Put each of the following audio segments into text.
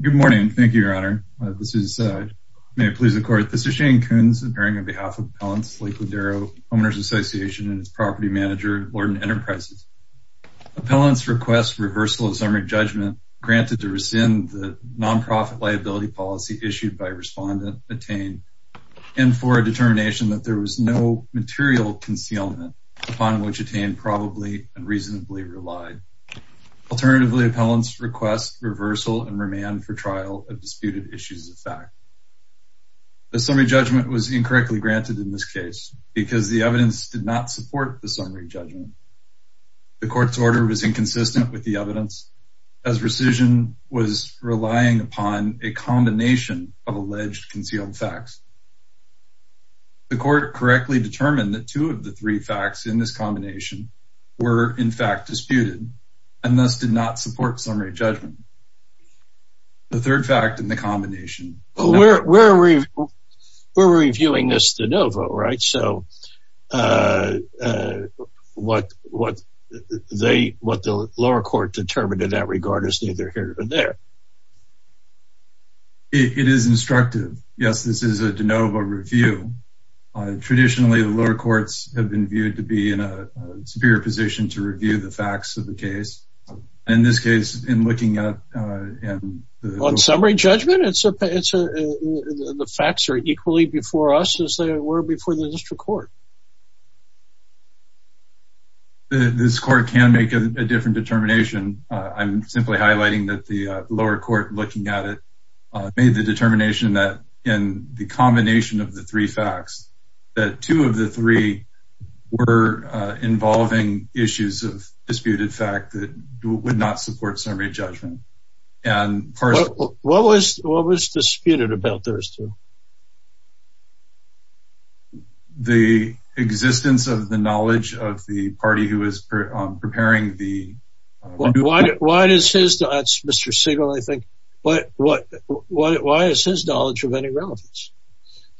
Good morning. Thank you, Your Honor. This is, may it please the Court, this is Shane Kuhns appearing on behalf of Appellants Lake Lindero Homeowners Association and its property manager, Lord & Enterprises. Appellants request reversal of summary judgment granted to rescind the non-profit liability policy issued by Respondent Atain and for a determination that there was no material concealment upon which Atain probably and reasonably relied. Alternatively, Appellants request reversal and remand for trial of disputed issues of fact. The summary judgment was incorrectly granted in this case because the evidence did not support the summary judgment. The Court's order was inconsistent with the evidence as rescission was relying upon a combination of alleged concealed facts. The Court correctly determined that two of the three facts in this combination were, in fact, disputed, and thus did not support summary judgment. The third fact in the combination... We're reviewing this de novo, right? So what the lower court determined in that regard is neither here nor there. It is instructive. Yes, this is a de novo review. Traditionally, the lower courts have been viewed to be in a superior position to review the facts of the case. In this case, in looking at... On summary judgment, it's a... the facts are equally before us as they were before the district court. This court can make a different determination. I'm simply highlighting that the lower court looking at it made the determination that in the combination of the three facts, that two of the three were involving issues of disputed fact that would not support summary judgment. What was disputed about those two? The existence of the knowledge of the party who is preparing the... Why does his... That's Mr. Sigel, I think. Why is his knowledge of any relevance?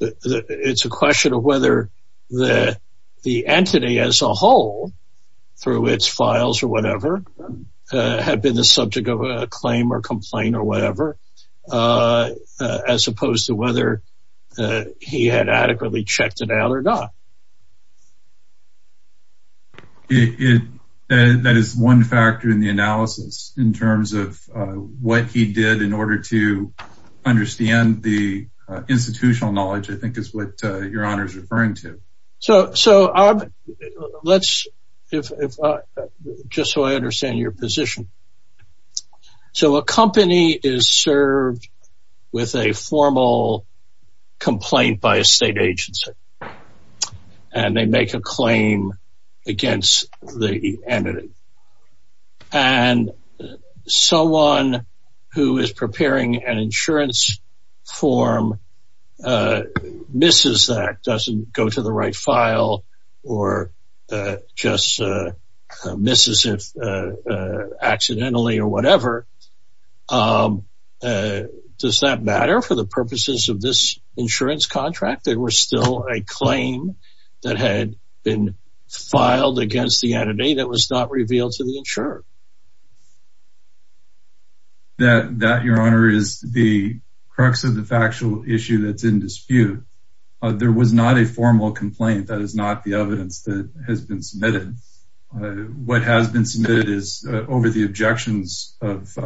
It's a question of whether the entity as a whole, through its files or whatever, had been the he had adequately checked it out or not. That is one factor in the analysis in terms of what he did in order to understand the institutional knowledge, I think, is what your honor is referring to. So, so let's just so I understand your position. So a company is served with a formal complaint by a state agency and they make a claim against the entity. And someone who is preparing an insurance form misses that, doesn't go to the right accidentally or whatever. Does that matter for the purposes of this insurance contract? There was still a claim that had been filed against the entity that was not revealed to the insurer. That, your honor, is the crux of the factual issue that's in dispute. There was not a formal complaint. That is not the evidence that has been submitted. What has been submitted is over the objections of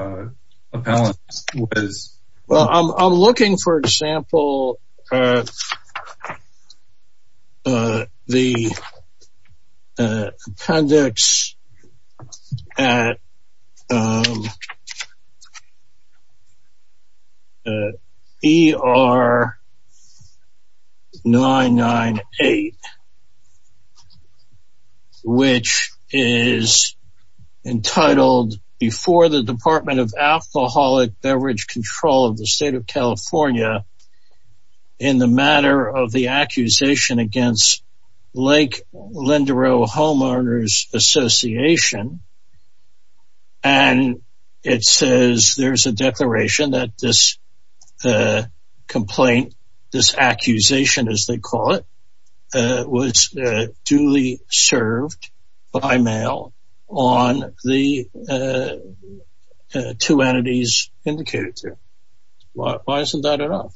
appellants. Well, I'm looking for example, the appendix at ER-998. Which is entitled before the Department of Alcoholic Beverage Control of the state of California in the matter of the accusation against Lake Linderow Homeowners Association. And it says there's a declaration that this complaint, this accusation as they call it, was duly served by mail on the two entities indicated there. Why isn't that enough?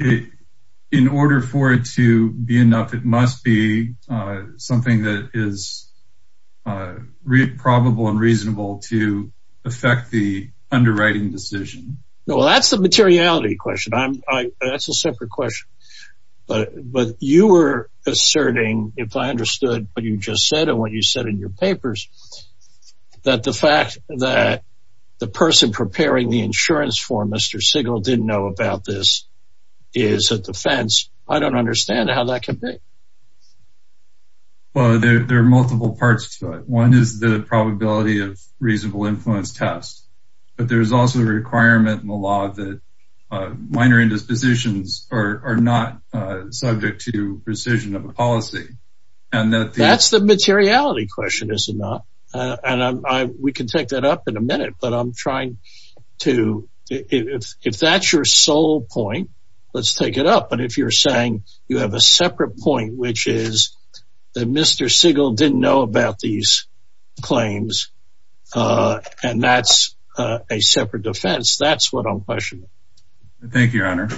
In order for it to be enough, it must be something that is probable and reasonable to affect the underwriting decision. No, that's the materiality question. That's a separate question. But you were asserting, if I understood what you just said and what you said in your papers, that the fact that the person preparing the insurance for Mr. Sigal didn't know about this is a defense. I don't understand how that could be. Well, there are multiple parts to it. One is the probability of reasonable influence test. But there's also a requirement in the law that minor indispositions are not subject to precision of a policy. And that's the materiality question, is it not? And we can take that up in a minute. But I'm trying to, if that's your sole point, let's take it up. But if you're saying you have a separate point, which is that Mr. Sigal didn't know about these claims. And that's a separate defense. That's what I'm questioning. Thank you, Your Honor.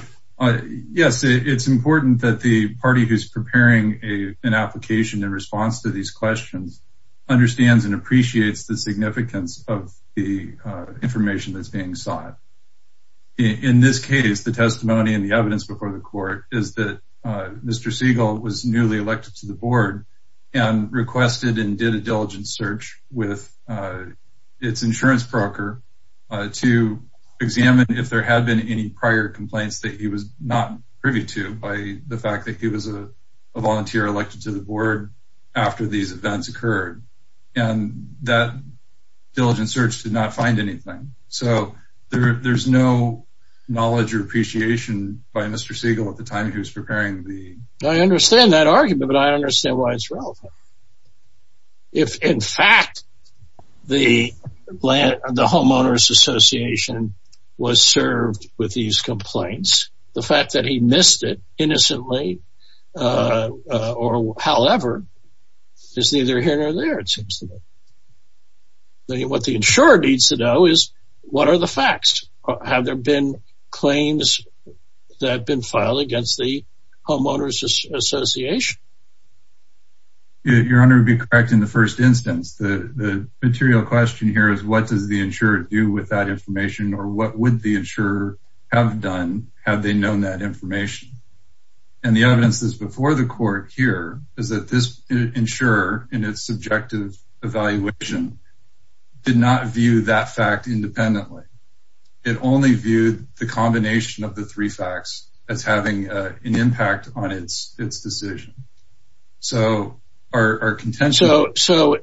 Yes, it's important that the party who's preparing an application in response to these questions understands and appreciates the significance of the information that's being sought. In this case, the testimony and the evidence before the court is that Mr. Sigal was newly elected to the board and requested and did a diligent search with its insurance broker to examine if there had been any prior complaints that he was not privy to by the fact that he was a volunteer elected to the board after these events occurred. And that diligent search did not find anything. So there's no knowledge or appreciation by Mr. Sigal at the time he was preparing the... I understand that argument, but I understand why it's relevant. If, in fact, the homeowner's association was served with these complaints, the fact that he missed it innocently or however, is neither here nor there, it seems to me. Then what the insurer needs to know is what are the facts? Have there been claims that have been filed against the homeowner's association? Your Honor would be correct in the first instance. The material question here is what does the insurer do with that information or what would the insurer have done had they known that information? And the evidence that's before the court here is that this insurer in its subjective evaluation did not view that fact independently. It only viewed the combination of the three facts as having an impact on its decision. So our contention... So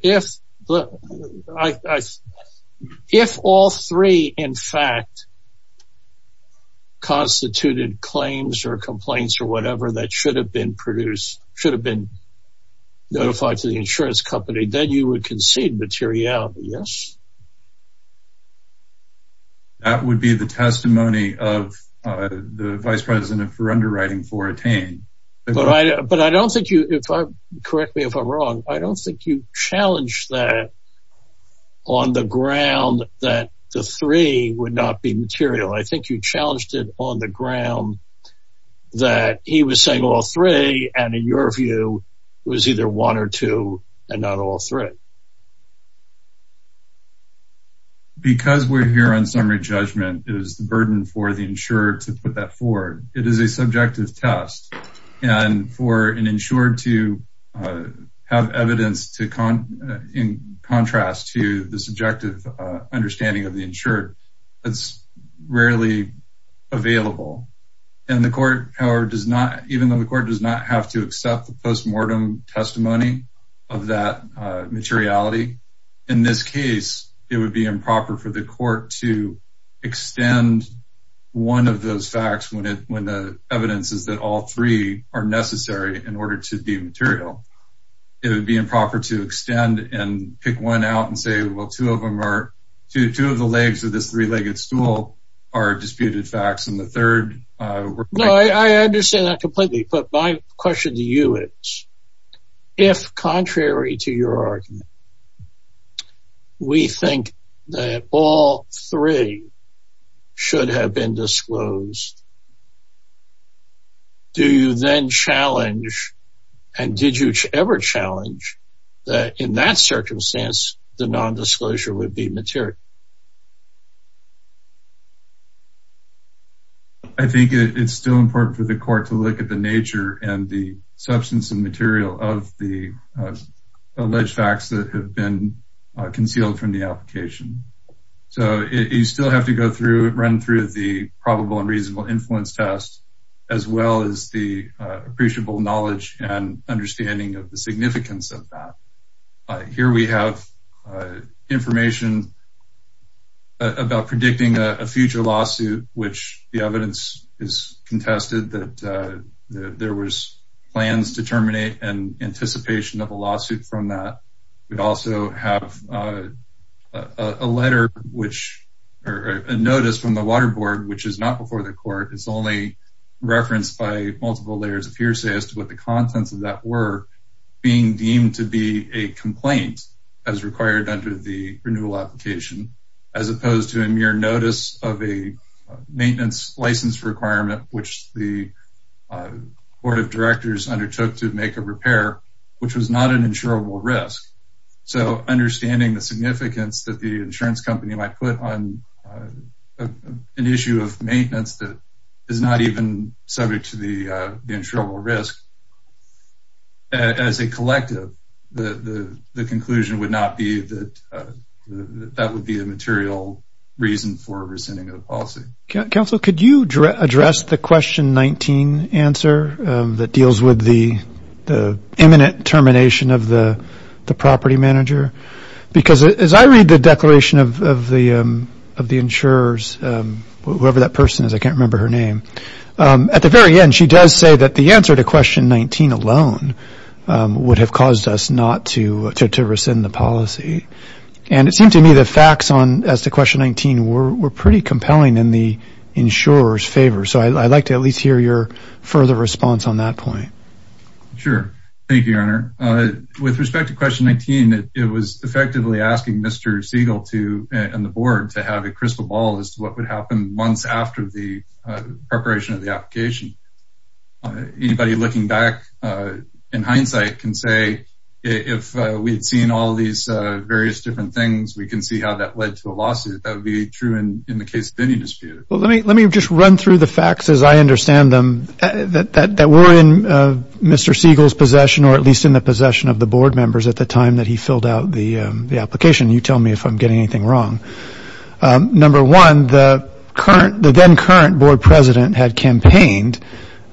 if all three, in fact, constituted claims or complaints or whatever that should have been produced, should have been notified to the insurance company, then you would concede materiality, yes? That would be the testimony of the vice president for underwriting for Attain. But I don't think you, correct me if I'm wrong, I don't think you challenged that on the ground that the three would not be material. I think you challenged it on the ground that he was saying all three and in your view, it was either one or two and not all three. Because we're here on summary judgment, it is the burden for the insurer to put that forward. It is a subjective test. And for an insured to have evidence to contrast to the subjective understanding of the insured, that's rarely available. And the court, however, does not, even though the court does not have to accept the postmortem testimony of that materiality, in this case, it would be improper for the insurer to say that all three are necessary in order to de-material, it would be improper to extend and pick one out and say, well, two of them are, two of the legs of this three legged stool are disputed facts. And the third... No, I understand that completely. But my question to you is, if contrary to your argument, we think that all three should have been disclosed, do you then challenge and did you ever challenge that in that circumstance, the nondisclosure would be material? I think it's still important for the court to look at the nature and the substance and material of the alleged facts that have been concealed from the application. So you still have to go through, run through the probable and reasonable influence test, as well as the appreciable knowledge and understanding of the significance of that. Here we have information about predicting a future lawsuit, which the evidence is contested that there was plans to terminate and anticipation of a lawsuit from that. We also have a letter which, or a notice from the water board, which is not before the court, it's only referenced by multiple layers of hearsay as to what the contents of that were being deemed to be a complaint as required under the renewal application, as opposed to a mere notice of a maintenance license requirement, which the board of So understanding the significance that the insurance company might put on an issue of maintenance that is not even subject to the insurable risk, as a collective, the conclusion would not be that that would be a material reason for rescinding of the policy. Counselor, could you address the question 19 answer that deals with the imminent termination of the property manager? Because as I read the declaration of the insurers, whoever that person is, I can't remember her name. At the very end, she does say that the answer to question 19 alone would have caused us not to rescind the policy. And it seemed to me the facts on, as to question 19, were pretty compelling in the insurer's favor. So I'd like to at least hear your further response on that point. Sure. Thank you, Your Honor. With respect to question 19, it was effectively asking Mr. Siegel to and the board to have a crystal ball as to what would happen months after the preparation of the application. Anybody looking back in hindsight can say if we'd seen all these various different things, we can see how that led to a lawsuit. That would be true in the case of any dispute. Well, let me let me just run through the facts as I understand them, that were in Mr. Siegel's possession or at least in the possession of the board members at the time that he filled out the application. You tell me if I'm getting anything wrong. Number one, the current the then current board president had campaigned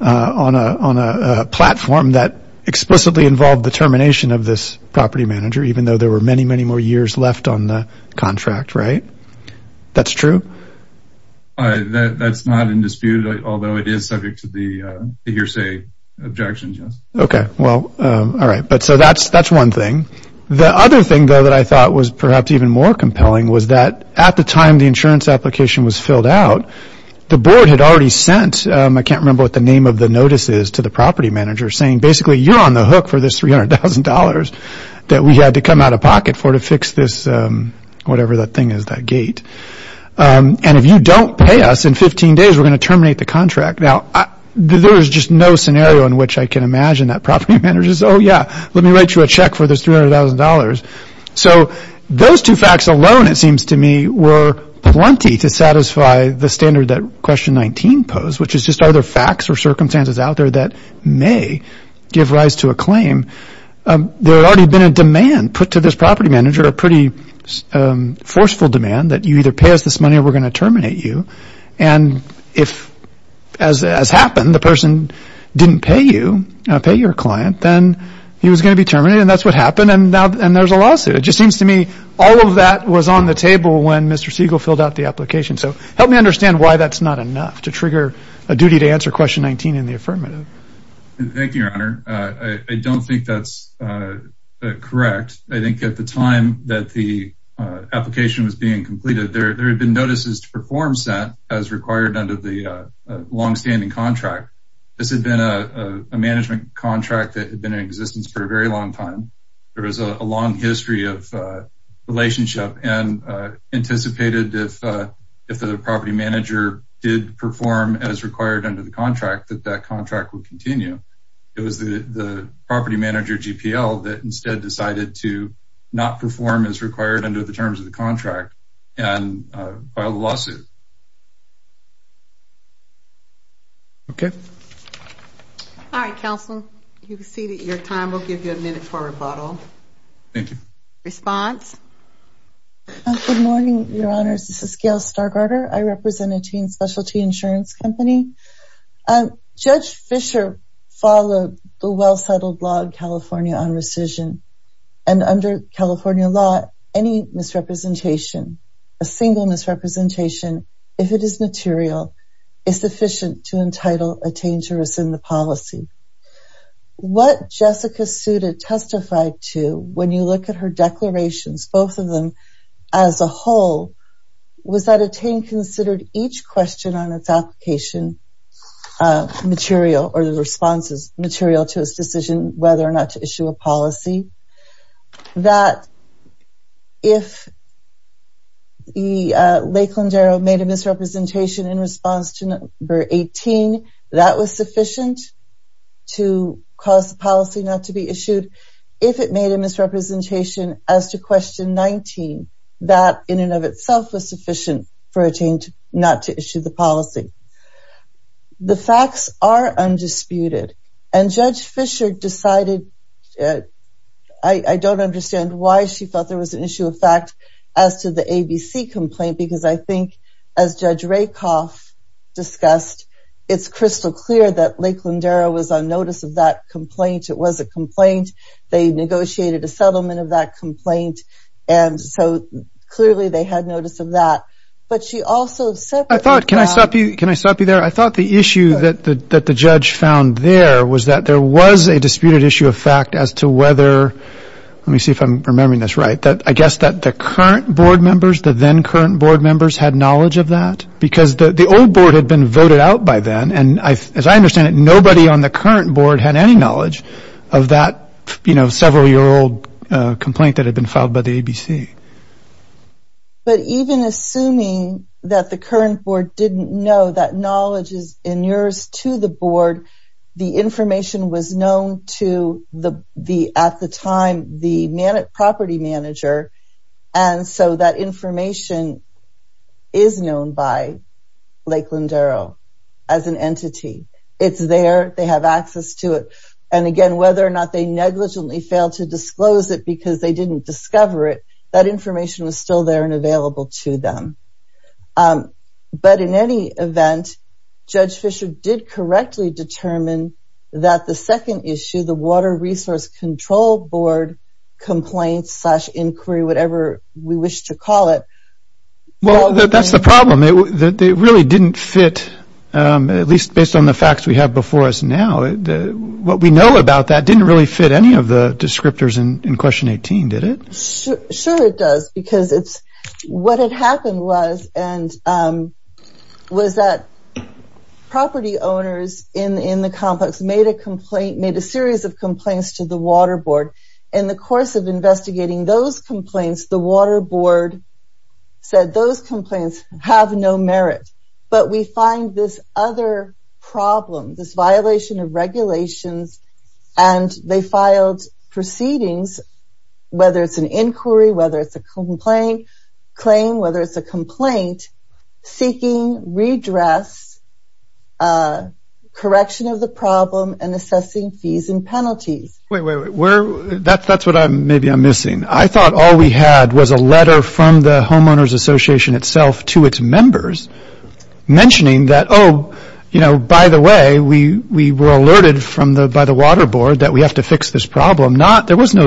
on a platform that explicitly involved the termination of this property manager, even though there were many, many more years left on the contract. Right. That's true. That's not in dispute, although it is subject to the hearsay objections. OK, well, all right. But so that's that's one thing. The other thing, though, that I thought was perhaps even more compelling was that at the time the insurance application was filled out, the board had already sent. I can't remember what the name of the notice is to the property manager saying basically you're on the hook for this $300,000 that we had to come out of pocket for to fix this whatever that thing is, that gate. And if you don't pay us in 15 days, we're going to terminate the contract. Now, there is just no scenario in which I can imagine that property managers. Oh, yeah. Let me write you a check for this $300,000. So those two facts alone, it seems to me, were plenty to satisfy the standard that question 19 pose, which is just other facts or circumstances out there that may give rise to a claim. There had already been a demand put to this property manager, a pretty forceful demand that you either pay us this money or we're going to terminate you. And if as has happened, the person didn't pay you, pay your client, then he was going to be terminated. And that's what happened. And now and there's a lawsuit. It just seems to me all of that was on the table when Mr. Siegel filled out the application. So help me understand why that's not enough to trigger a duty to answer question 19 in the affirmative. Thank you, your honor. I don't think that's correct. I think at the time that the application was being completed, there had been notices to perform set as required under the longstanding contract. This had been a management contract that had been in existence for a very long time. There was a long history of relationship and anticipated if the property manager did perform as required under the contract, that that contract would continue. It was the property manager, GPL, that instead decided to not perform as required under the terms of the contract and filed a lawsuit. OK. All right, counsel, you can see that your time will give you a minute for rebuttal. Thank you. Response. Good morning, your honors. This is Gail Stargardner. I represent a teen specialty insurance company. Judge Fisher followed the well-settled law in California on rescission. And under California law, any misrepresentation, a single misrepresentation, if it is material, is sufficient to entitle a teen to rescind the policy. What Jessica Suda testified to when you look at her declarations, both of them as a whole, was that a teen considered each question on its application material or the responses material to its decision whether or not to issue a policy. That if Lakeland Arrow made a misrepresentation in response to number 18, that was sufficient to cause the policy not to be issued. If it made a misrepresentation as to question 19, that in and of itself was sufficient for a teen not to issue the policy. The facts are undisputed. And Judge Fisher decided, I don't understand why she felt there was an issue of fact as to the ABC complaint, because I think as Judge Rakoff discussed, it's crystal clear that Lakeland Arrow was on notice of that complaint. It was a complaint. They negotiated a settlement of that complaint. And so clearly they had notice of that. But she also said... I thought, can I stop you? Can I stop you there? I thought the issue that the judge found there was that there was a disputed issue of fact as to whether, let me see if I'm remembering this right, that I guess that the current board members, the then current board members had knowledge of that because the old board had been voted out by then. And as I understand it, nobody on the current board had any knowledge of that several year old complaint that had been filed by the ABC. But even assuming that the current board didn't know that knowledge is in yours to the board, the information was known to the, at the time, the property manager. And so that information is known by Lakeland Arrow as an entity. It's there. They have access to it. And again, whether or not they negligently failed to disclose it because they didn't discover it, that information was still there and available to them. But in any event, Judge Fisher did correctly determine that the second issue, the Water Resource Control Board Complaints slash Inquiry, whatever we wish to call it. Well, that's the problem. It really didn't fit, at least based on the facts we have before us now, what we know about that didn't really fit any of the descriptors in question 18, did it? Sure it does. Because it's what had happened was, and was that property owners in the complex made a series of complaints to the Water Board. In the course of investigating those complaints, the Water Board said those complaints have no merit. But we find this other problem, this violation of regulations, and they filed proceedings, whether it's an inquiry, whether it's a complaint, seeking redress, correction of the assessing fees and penalties. Wait, wait, wait, that's what maybe I'm missing. I thought all we had was a letter from the Homeowners Association itself to its members mentioning that, oh, you know, by the way, we were alerted by the Water Board that we have to fix this problem. There was no,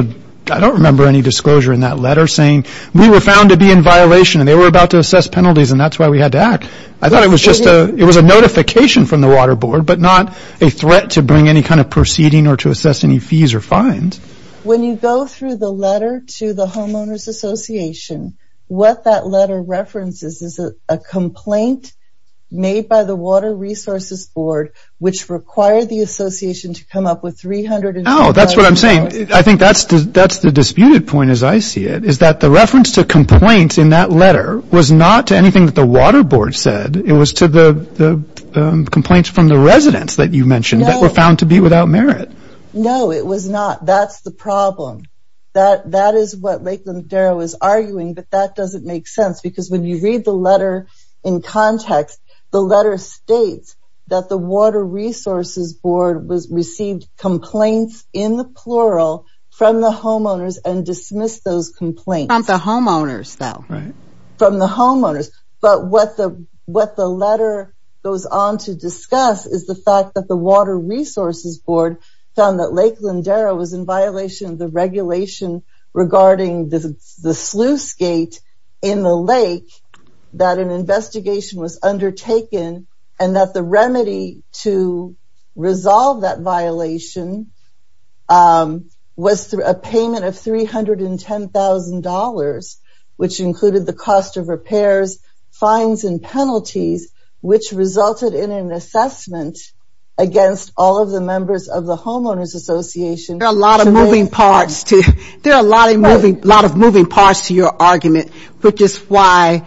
I don't remember any disclosure in that letter saying we were found to be in violation and they were about to assess penalties and that's why we had to act. I thought it was just a, it was a notification from the Water Board, but not a threat to bring any kind of proceeding or to assess any fees or fines. When you go through the letter to the Homeowners Association, what that letter references is a complaint made by the Water Resources Board, which required the Association to come up with $350,000. Oh, that's what I'm saying. I think that's the disputed point, as I see it, is that the reference to complaints in that letter was not to anything that the Water Board said. It was to the complaints from the residents that you mentioned that were found to be without merit. No, it was not. That's the problem. That is what Lakeland Darrow is arguing, but that doesn't make sense because when you read the letter in context, the letter states that the Water Resources Board received complaints in the plural from the homeowners and dismissed those complaints. From the homeowners, though. From the homeowners. But what the letter goes on to discuss is the fact that the Water Resources Board found that Lakeland Darrow was in violation of the regulation regarding the sluice gate in the lake, that an investigation was undertaken, and that the remedy to resolve that included the cost of repairs, fines, and penalties, which resulted in an assessment against all of the members of the Homeowners Association. There are a lot of moving parts to your argument, which is why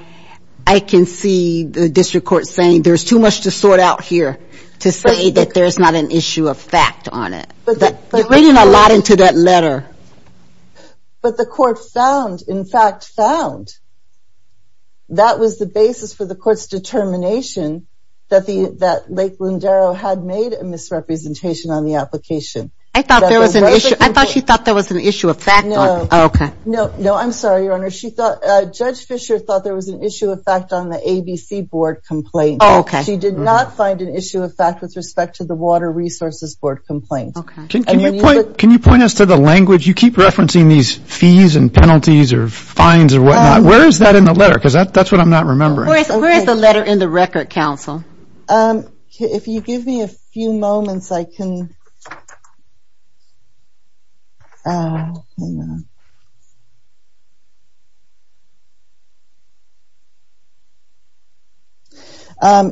I can see the district court saying there's too much to sort out here to say that there's not an issue of fact on it. You're reading a lot into that letter. But the court found, in fact found, that was the basis for the court's determination that Lakeland Darrow had made a misrepresentation on the application. I thought she thought there was an issue of fact on it. No. No, I'm sorry, Your Honor. Judge Fisher thought there was an issue of fact on the ABC Board complaint. She did not find an issue of fact with respect to the Water Resources Board complaint. Can you point us to the language? You keep referencing these fees and penalties or fines or whatnot. Where is that in the letter? Because that's what I'm not remembering. Where is the letter in the record, counsel? If you give me a few moments, I can...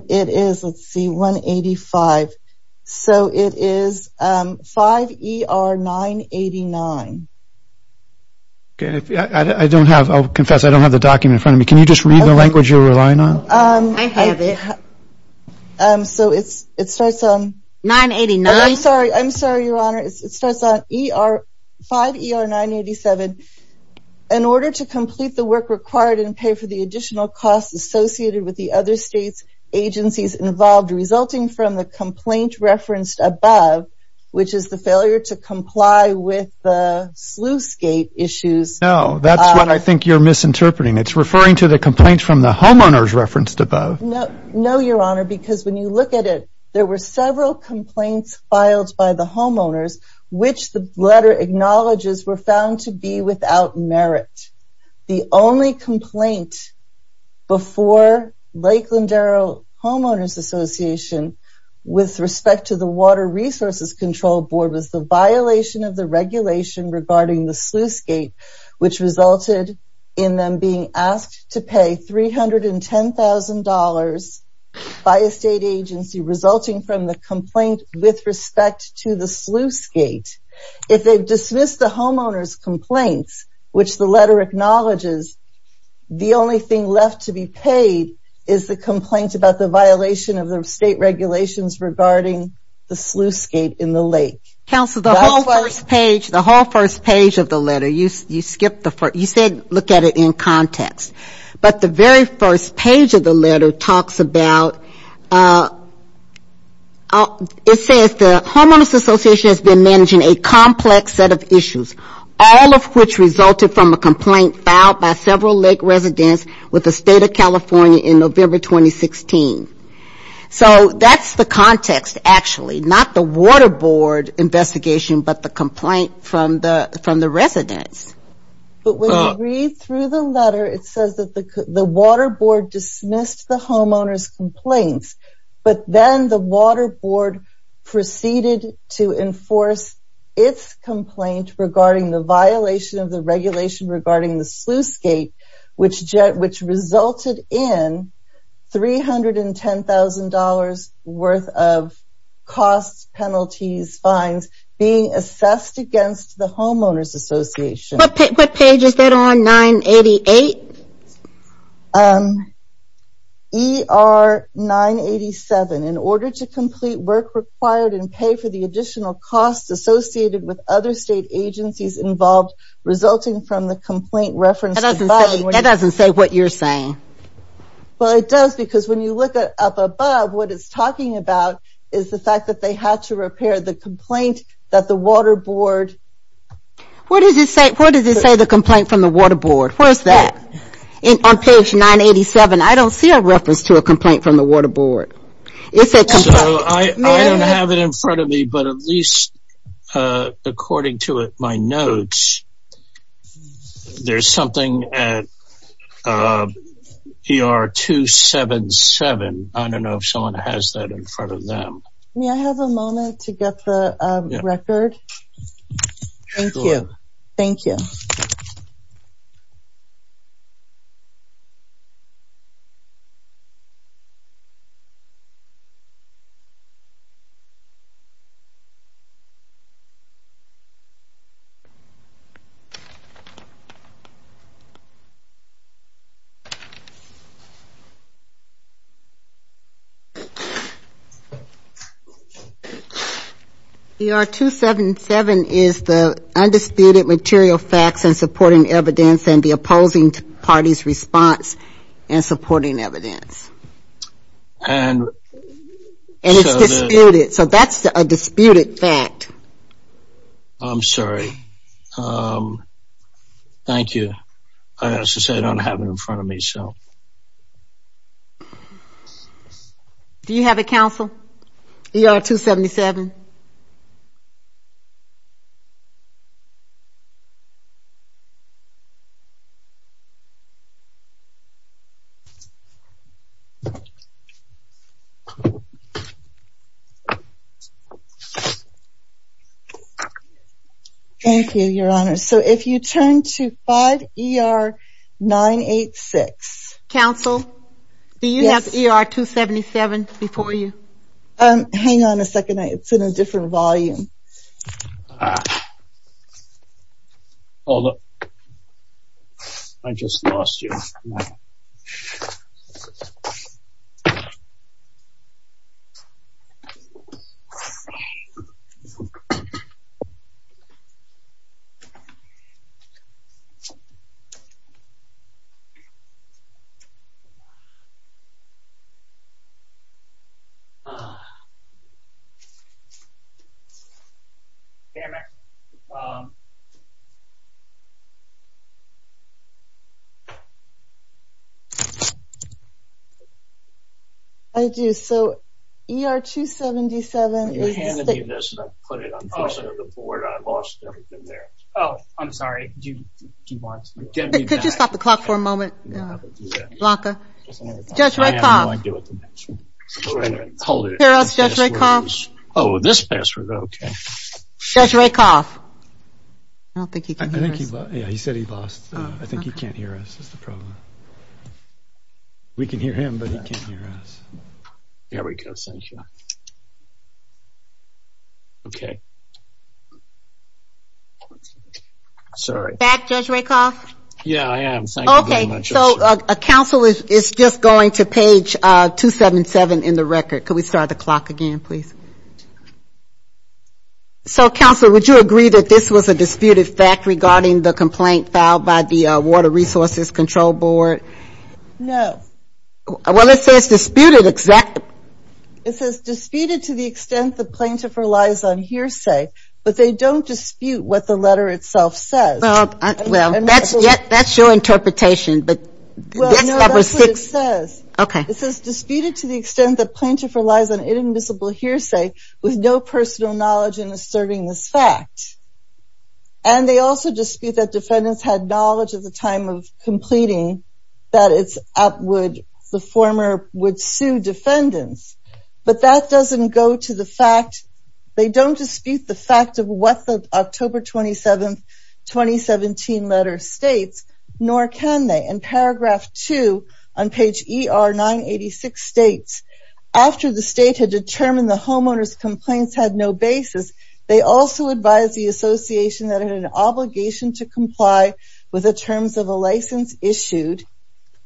It is, let's see, 185. So it is 5ER-989. I don't have, I'll confess, I don't have the document in front of me. Can you just read the language you're relying on? I have it. So it starts on... 989. I'm sorry, I'm sorry, Your Honor. It starts on 5ER-987. In order to complete the work required and pay for the additional costs associated with the other state's agencies involved resulting from the complaint referenced above, which is the failure to comply with the sluice gate issues... No, that's what I think you're misinterpreting. It's referring to the complaint from the homeowners referenced above. No, Your Honor, because when you look at it, there were several complaints filed by the homeowners which the letter acknowledges were found to be without merit. The only complaint before Lake Landero Homeowners Association with respect to the Water Resources Control Board was the violation of the regulation regarding the sluice gate, which resulted in them being asked to pay $310,000 by a state agency resulting from the complaint with respect to the sluice gate. If they've dismissed the homeowners' complaints, which the letter acknowledges, the only thing left to be paid is the complaint about the violation of the state regulations regarding the sluice gate in the lake. Counsel, the whole first page of the letter, you said look at it in context. But the very first page of the letter talks about... It says the homeowners' association has been managing a complex set of issues, all of which resulted from a complaint filed by several lake residents with the state of California in November 2016. So that's the context actually, not the Water Board investigation, but the complaint from the residents. But when you read through the letter, it says that the Water Board dismissed the homeowners' complaints, but then the Water Board proceeded to enforce its complaint regarding the violation of the regulation regarding the sluice gate, which resulted in $310,000 worth of costs, penalties, fines being assessed against the homeowners' association. What page is that on, 988? ER 987. In order to complete work required and pay for the additional costs associated with other state agencies involved resulting from the complaint referenced above... That doesn't say what you're saying. Well, it does because when you look up above, what it's talking about is the fact that they had to repair the complaint that the Water Board... Where does it say the complaint from the Water Board? Where's that? On page 987, I don't see a reference to a complaint from the Water Board. It's a complaint. So I don't have it in front of me, but at least according to my notes, there's something at ER 277. I don't know if someone has that in front of them. May I have a moment to get the record? Sure. Thank you. Thank you. ER 277 is the Undisputed Material Facts and Supporting Evidence and the Opposing Party's Response and Supporting Evidence. And it's disputed. So that's a disputed fact. I'm sorry. Thank you. As I said, I don't have it in front of me, so... Do you have it, counsel, ER 277? Thank you, Your Honor. So if you turn to 5 ER 986. Counsel? Yes? Do you have ER 277 before you? Hang on a second. It's in a different volume. Oh, look. I just lost you. I do. So ER 277 is the... I handed you this, and I put it on the board. I lost everything there. Oh, I'm sorry. Do you want to... Could you stop the clock for a moment, Blanca? Just one more time. I have no idea what the password is. Hold it. Here's the password. Oh, this password. Okay. Judge Rakoff? I don't think he can hear us. I think he lost... Yeah, he said he lost. I think he can't hear us. That's the problem. We can hear him, but he can't hear us. There we go. Thank you. Okay. Sorry. Back, Judge Rakoff? Yeah, I am. Thank you very much. So counsel, it's just going to page 277 in the record. Could we start the clock again, please? Okay. Okay. Okay. Okay. Okay. Okay. Okay. Okay. Okay. Okay. Okay. So, counsel, would you agree that this was a disputed fact regarding the complaint filed by the Water Resources Control Board? No. Well, this says disputed... It says disputed to the extent the plaintiff relies on hearsay, but they don't dispute what the letter itself says. Well, that's your interpretation. Well, no. That's what it says. Okay. It says disputed to the extent that plaintiff relies on inadmissible hearsay with no personal knowledge in asserting this fact. And they also dispute that defendants had knowledge at the time of completing that the former would sue defendants. But that doesn't go to the fact... They don't dispute the fact of what the October 27, 2017 letter states, nor can they. In paragraph 2 on page ER-986 states, after the state had determined the homeowner's complaints had no basis, they also advised the association that had an obligation to comply with the terms of a license issued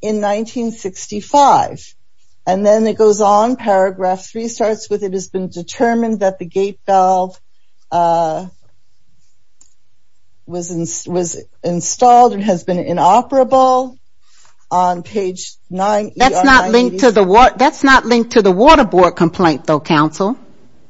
in 1965. And then it goes on, paragraph 3 starts with, it has been determined that the gate valve was installed and has been inoperable on page ER-986. That's not linked to the Water Board complaint, though, counsel.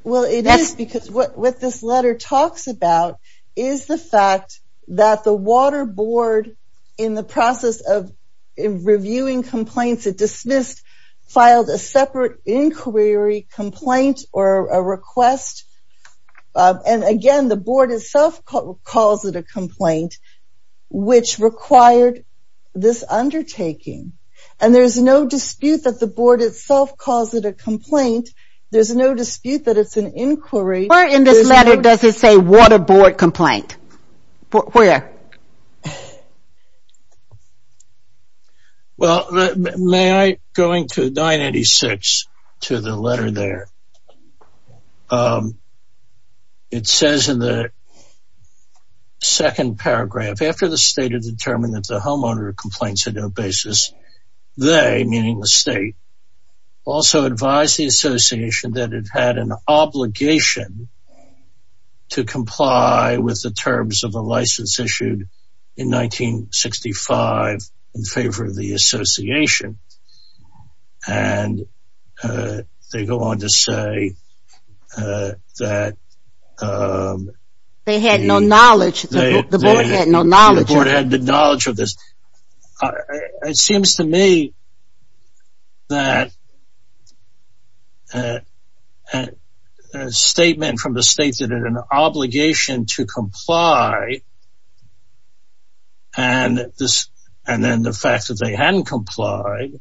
Well, it is, because what this letter talks about is the fact that the Water Board, in the process of reviewing complaints it dismissed, filed a separate inquiry complaint or a request. And again, the Board itself calls it a complaint, which required this undertaking. And there's no dispute that the Board itself calls it a complaint. There's no dispute that it's an inquiry. Where in this letter does it say Water Board complaint? Where? Well, may I go into 986 to the letter there? It says in the second paragraph, after the state had determined that the homeowner complaints had no basis, they, meaning the state, also advised the association that it had an obligation to comply with the terms of a license issued in 1965 in favor of the association. And they go on to say that... They had no knowledge. The Board had no knowledge. The Board had no knowledge of this. It seems to me that a statement from the state that it had an obligation to comply and then the fact that they hadn't complied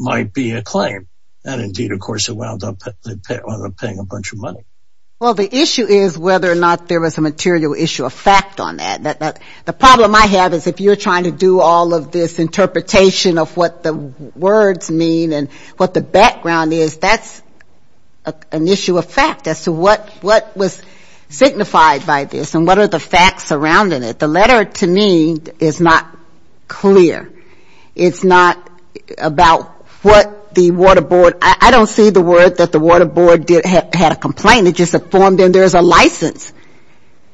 might be a claim. And indeed, of course, it wound up paying a bunch of money. Well, the issue is whether or not there was a material issue of fact on that. The problem I have is if you're trying to do all of this interpretation of what the words mean and what the background is, that's an issue of fact as to what was signified by this and what are the facts surrounding it. The letter to me is not clear. It's not about what the Water Board... I don't see the word that the Water Board had a complaint. There's a license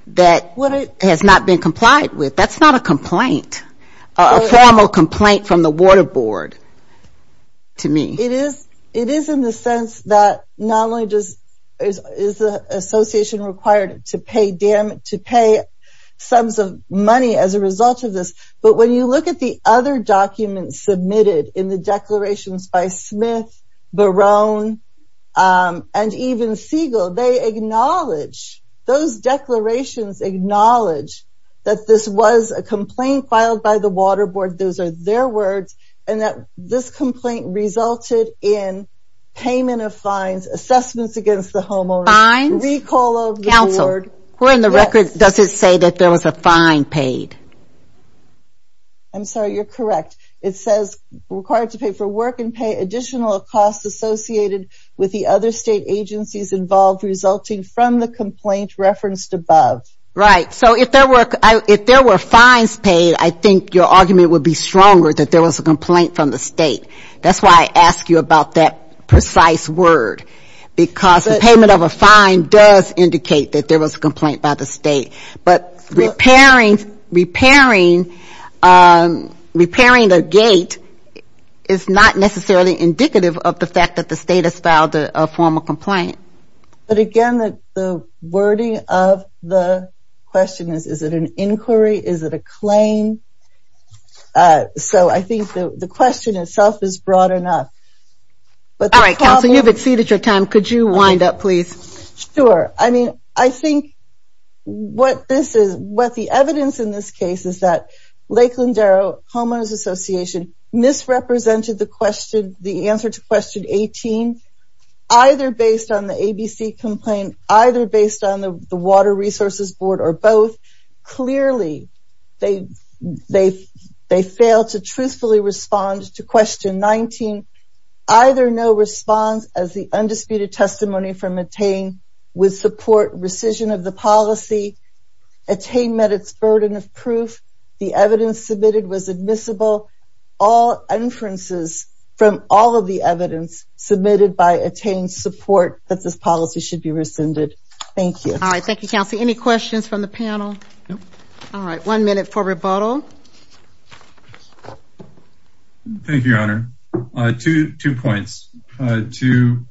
that has not been complied with. That's not a complaint, a formal complaint from the Water Board to me. It is in the sense that not only is the association required to pay sums of money as a result of this, but when you look at the other documents submitted in the declarations by Smith, Barone, and even Siegel, they acknowledge, those declarations acknowledge that this was a complaint filed by the Water Board. Those are their words. And that this complaint resulted in payment of fines, assessments against the homeowner... Fines? Recall of the award... Counsel, according to the record, does it say that there was a fine paid? I'm sorry, you're correct. It says required to pay for work and pay additional costs associated with the other state agencies involved resulting from the complaint referenced above. Right, so if there were fines paid, I think your argument would be stronger that there was a complaint from the state. That's why I asked you about that precise word. Because the payment of a fine does indicate that there was a complaint by the state. But repairing the gate is not necessarily indicative of the fact that the state has filed a formal complaint. But again, the wording of the question is, is it an inquiry? Is it a claim? So I think the question itself is broad enough. All right, Counsel, you've exceeded your time. Could you wind up, please? Sure. I think what the evidence in this case is that Lakeland Darrow Homeowners Association misrepresented the answer to question 18, either based on the ABC complaint, either based on the Water Resources Board, or both. Clearly, they failed to truthfully respond to question 19. Either no response as the undisputed testimony from ATTAIN would support rescission of the policy. ATTAIN met its burden of proof. The evidence submitted was admissible. All inferences from all of the evidence submitted by ATTAIN support that this policy should be rescinded. Thank you. All right, thank you, Counsel. Any questions from the panel? All right, one minute for rebuttal. Thank you, Your Honor. Two points. To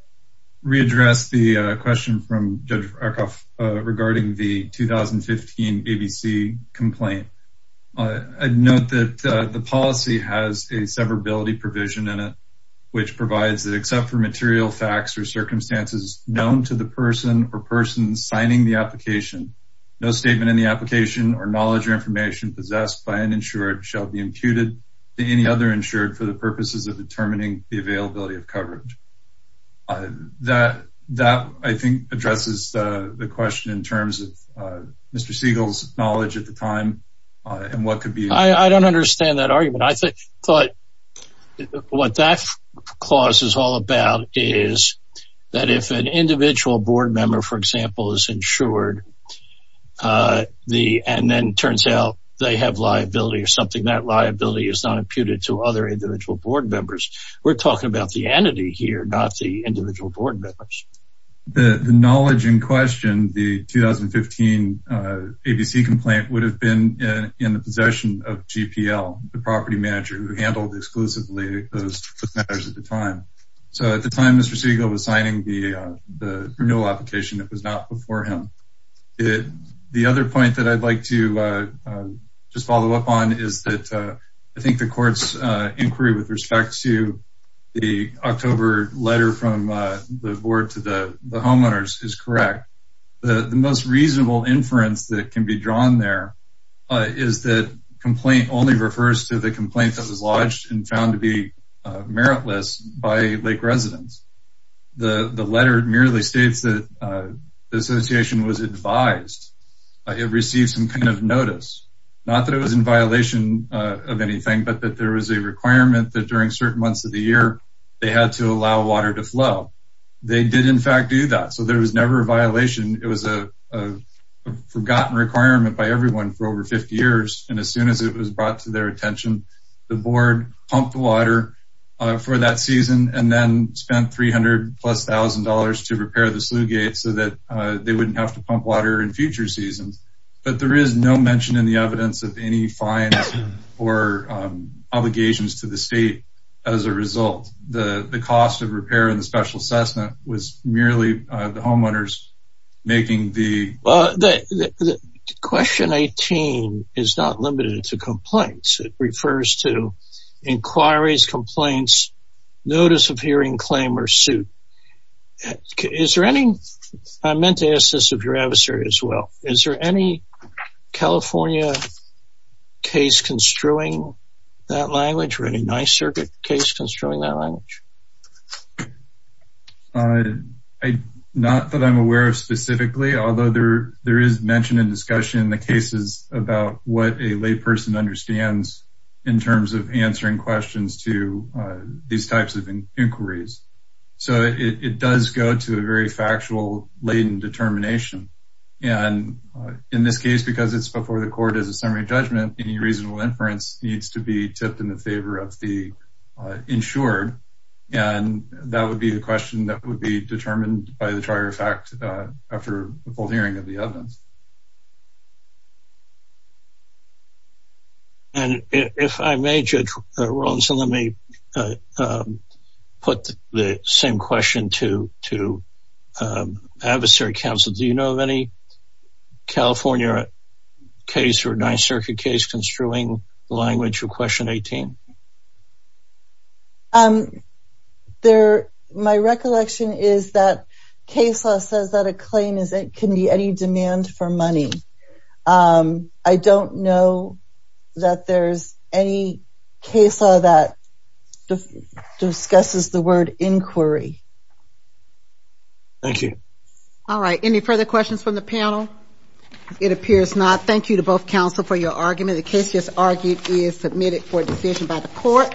readdress the question from Judge Arkoff regarding the 2015 ABC complaint, I'd note that the policy has a severability provision in it, which provides that except for material facts or circumstances known to the person or persons signing the application, no statement in the application or knowledge or information possessed by an insured shall be imputed to any other insured for the purposes of determining the availability of coverage. That, I think, addresses the question in terms of Mr. Siegel's knowledge at the time. I don't understand that argument. I thought what that clause is all about is that if an individual board member, for example, is insured and then turns out they have liability or something, that liability is not imputed to other individual board members. We're talking about the entity here, not the individual board members. The knowledge in question, the 2015 ABC complaint, would have been in the possession of GPL, the property manager who handled exclusively those matters at the time. So at the time, Mr. Siegel was signing the renewal application. It was not before him. The other point that I'd like to just follow up on is that I think the court's inquiry with respect to the October letter from the board to the homeowners is correct. The most reasonable inference that can be drawn there is that complaint only refers to the complaint that was lodged and found to be meritless by Lake residents. The letter merely states that the association was advised. It received some kind of notice, not that it was in violation of anything, but that there was a requirement that during certain months of the year, they had to allow water to flow. They did in fact do that. So there was never a violation. It was a forgotten requirement by everyone for over 50 years. And as soon as it was brought to their attention, the board pumped water for that season and then spent $300,000 plus to repair the sluice gate so that they wouldn't have to pump water in future seasons. But there is no mention in the evidence of any fines or obligations to the state as a result. The cost of repair and the special assessment was merely the homeowners making the... Question 18 is not limited to complaints. It refers to inquiries, complaints, notice of hearing, claim, or suit. Is there any... I meant to ask this of your adversary as well. Is there any California case construing that language or any nice circuit case construing that language? Not that I'm aware of specifically, although there is mention in discussion in the cases about what a lay person understands in terms of answering questions to these types of inquiries. So it does go to a very factual latent determination. And in this case, because it's before the court as a summary judgment, any reasonable inference needs to be tipped in the favor of the insured. And that would be the question that would be determined by the trier of fact after the full hearing of the evidence. And if I may, Judge Rawlinson, let me put the same question to adversary counsel. Do you know of any California case or nice circuit case construing language for question 18? My recollection is that case law says that a claim can be any demand for money. I don't know that there's any case law that discusses the word inquiry. Thank you. All right. Any further questions from the panel? It appears not. Thank you to both counsel for your argument. The case just argued is submitted for decision by the court.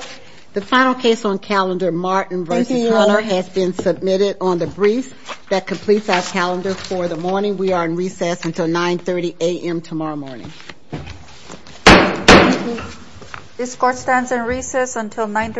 The final case on calendar Martin versus Hunter has been submitted on the brief that completes our calendar for the morning. We are in recess until 930 a.m. tomorrow morning. This court stands in recess until 930.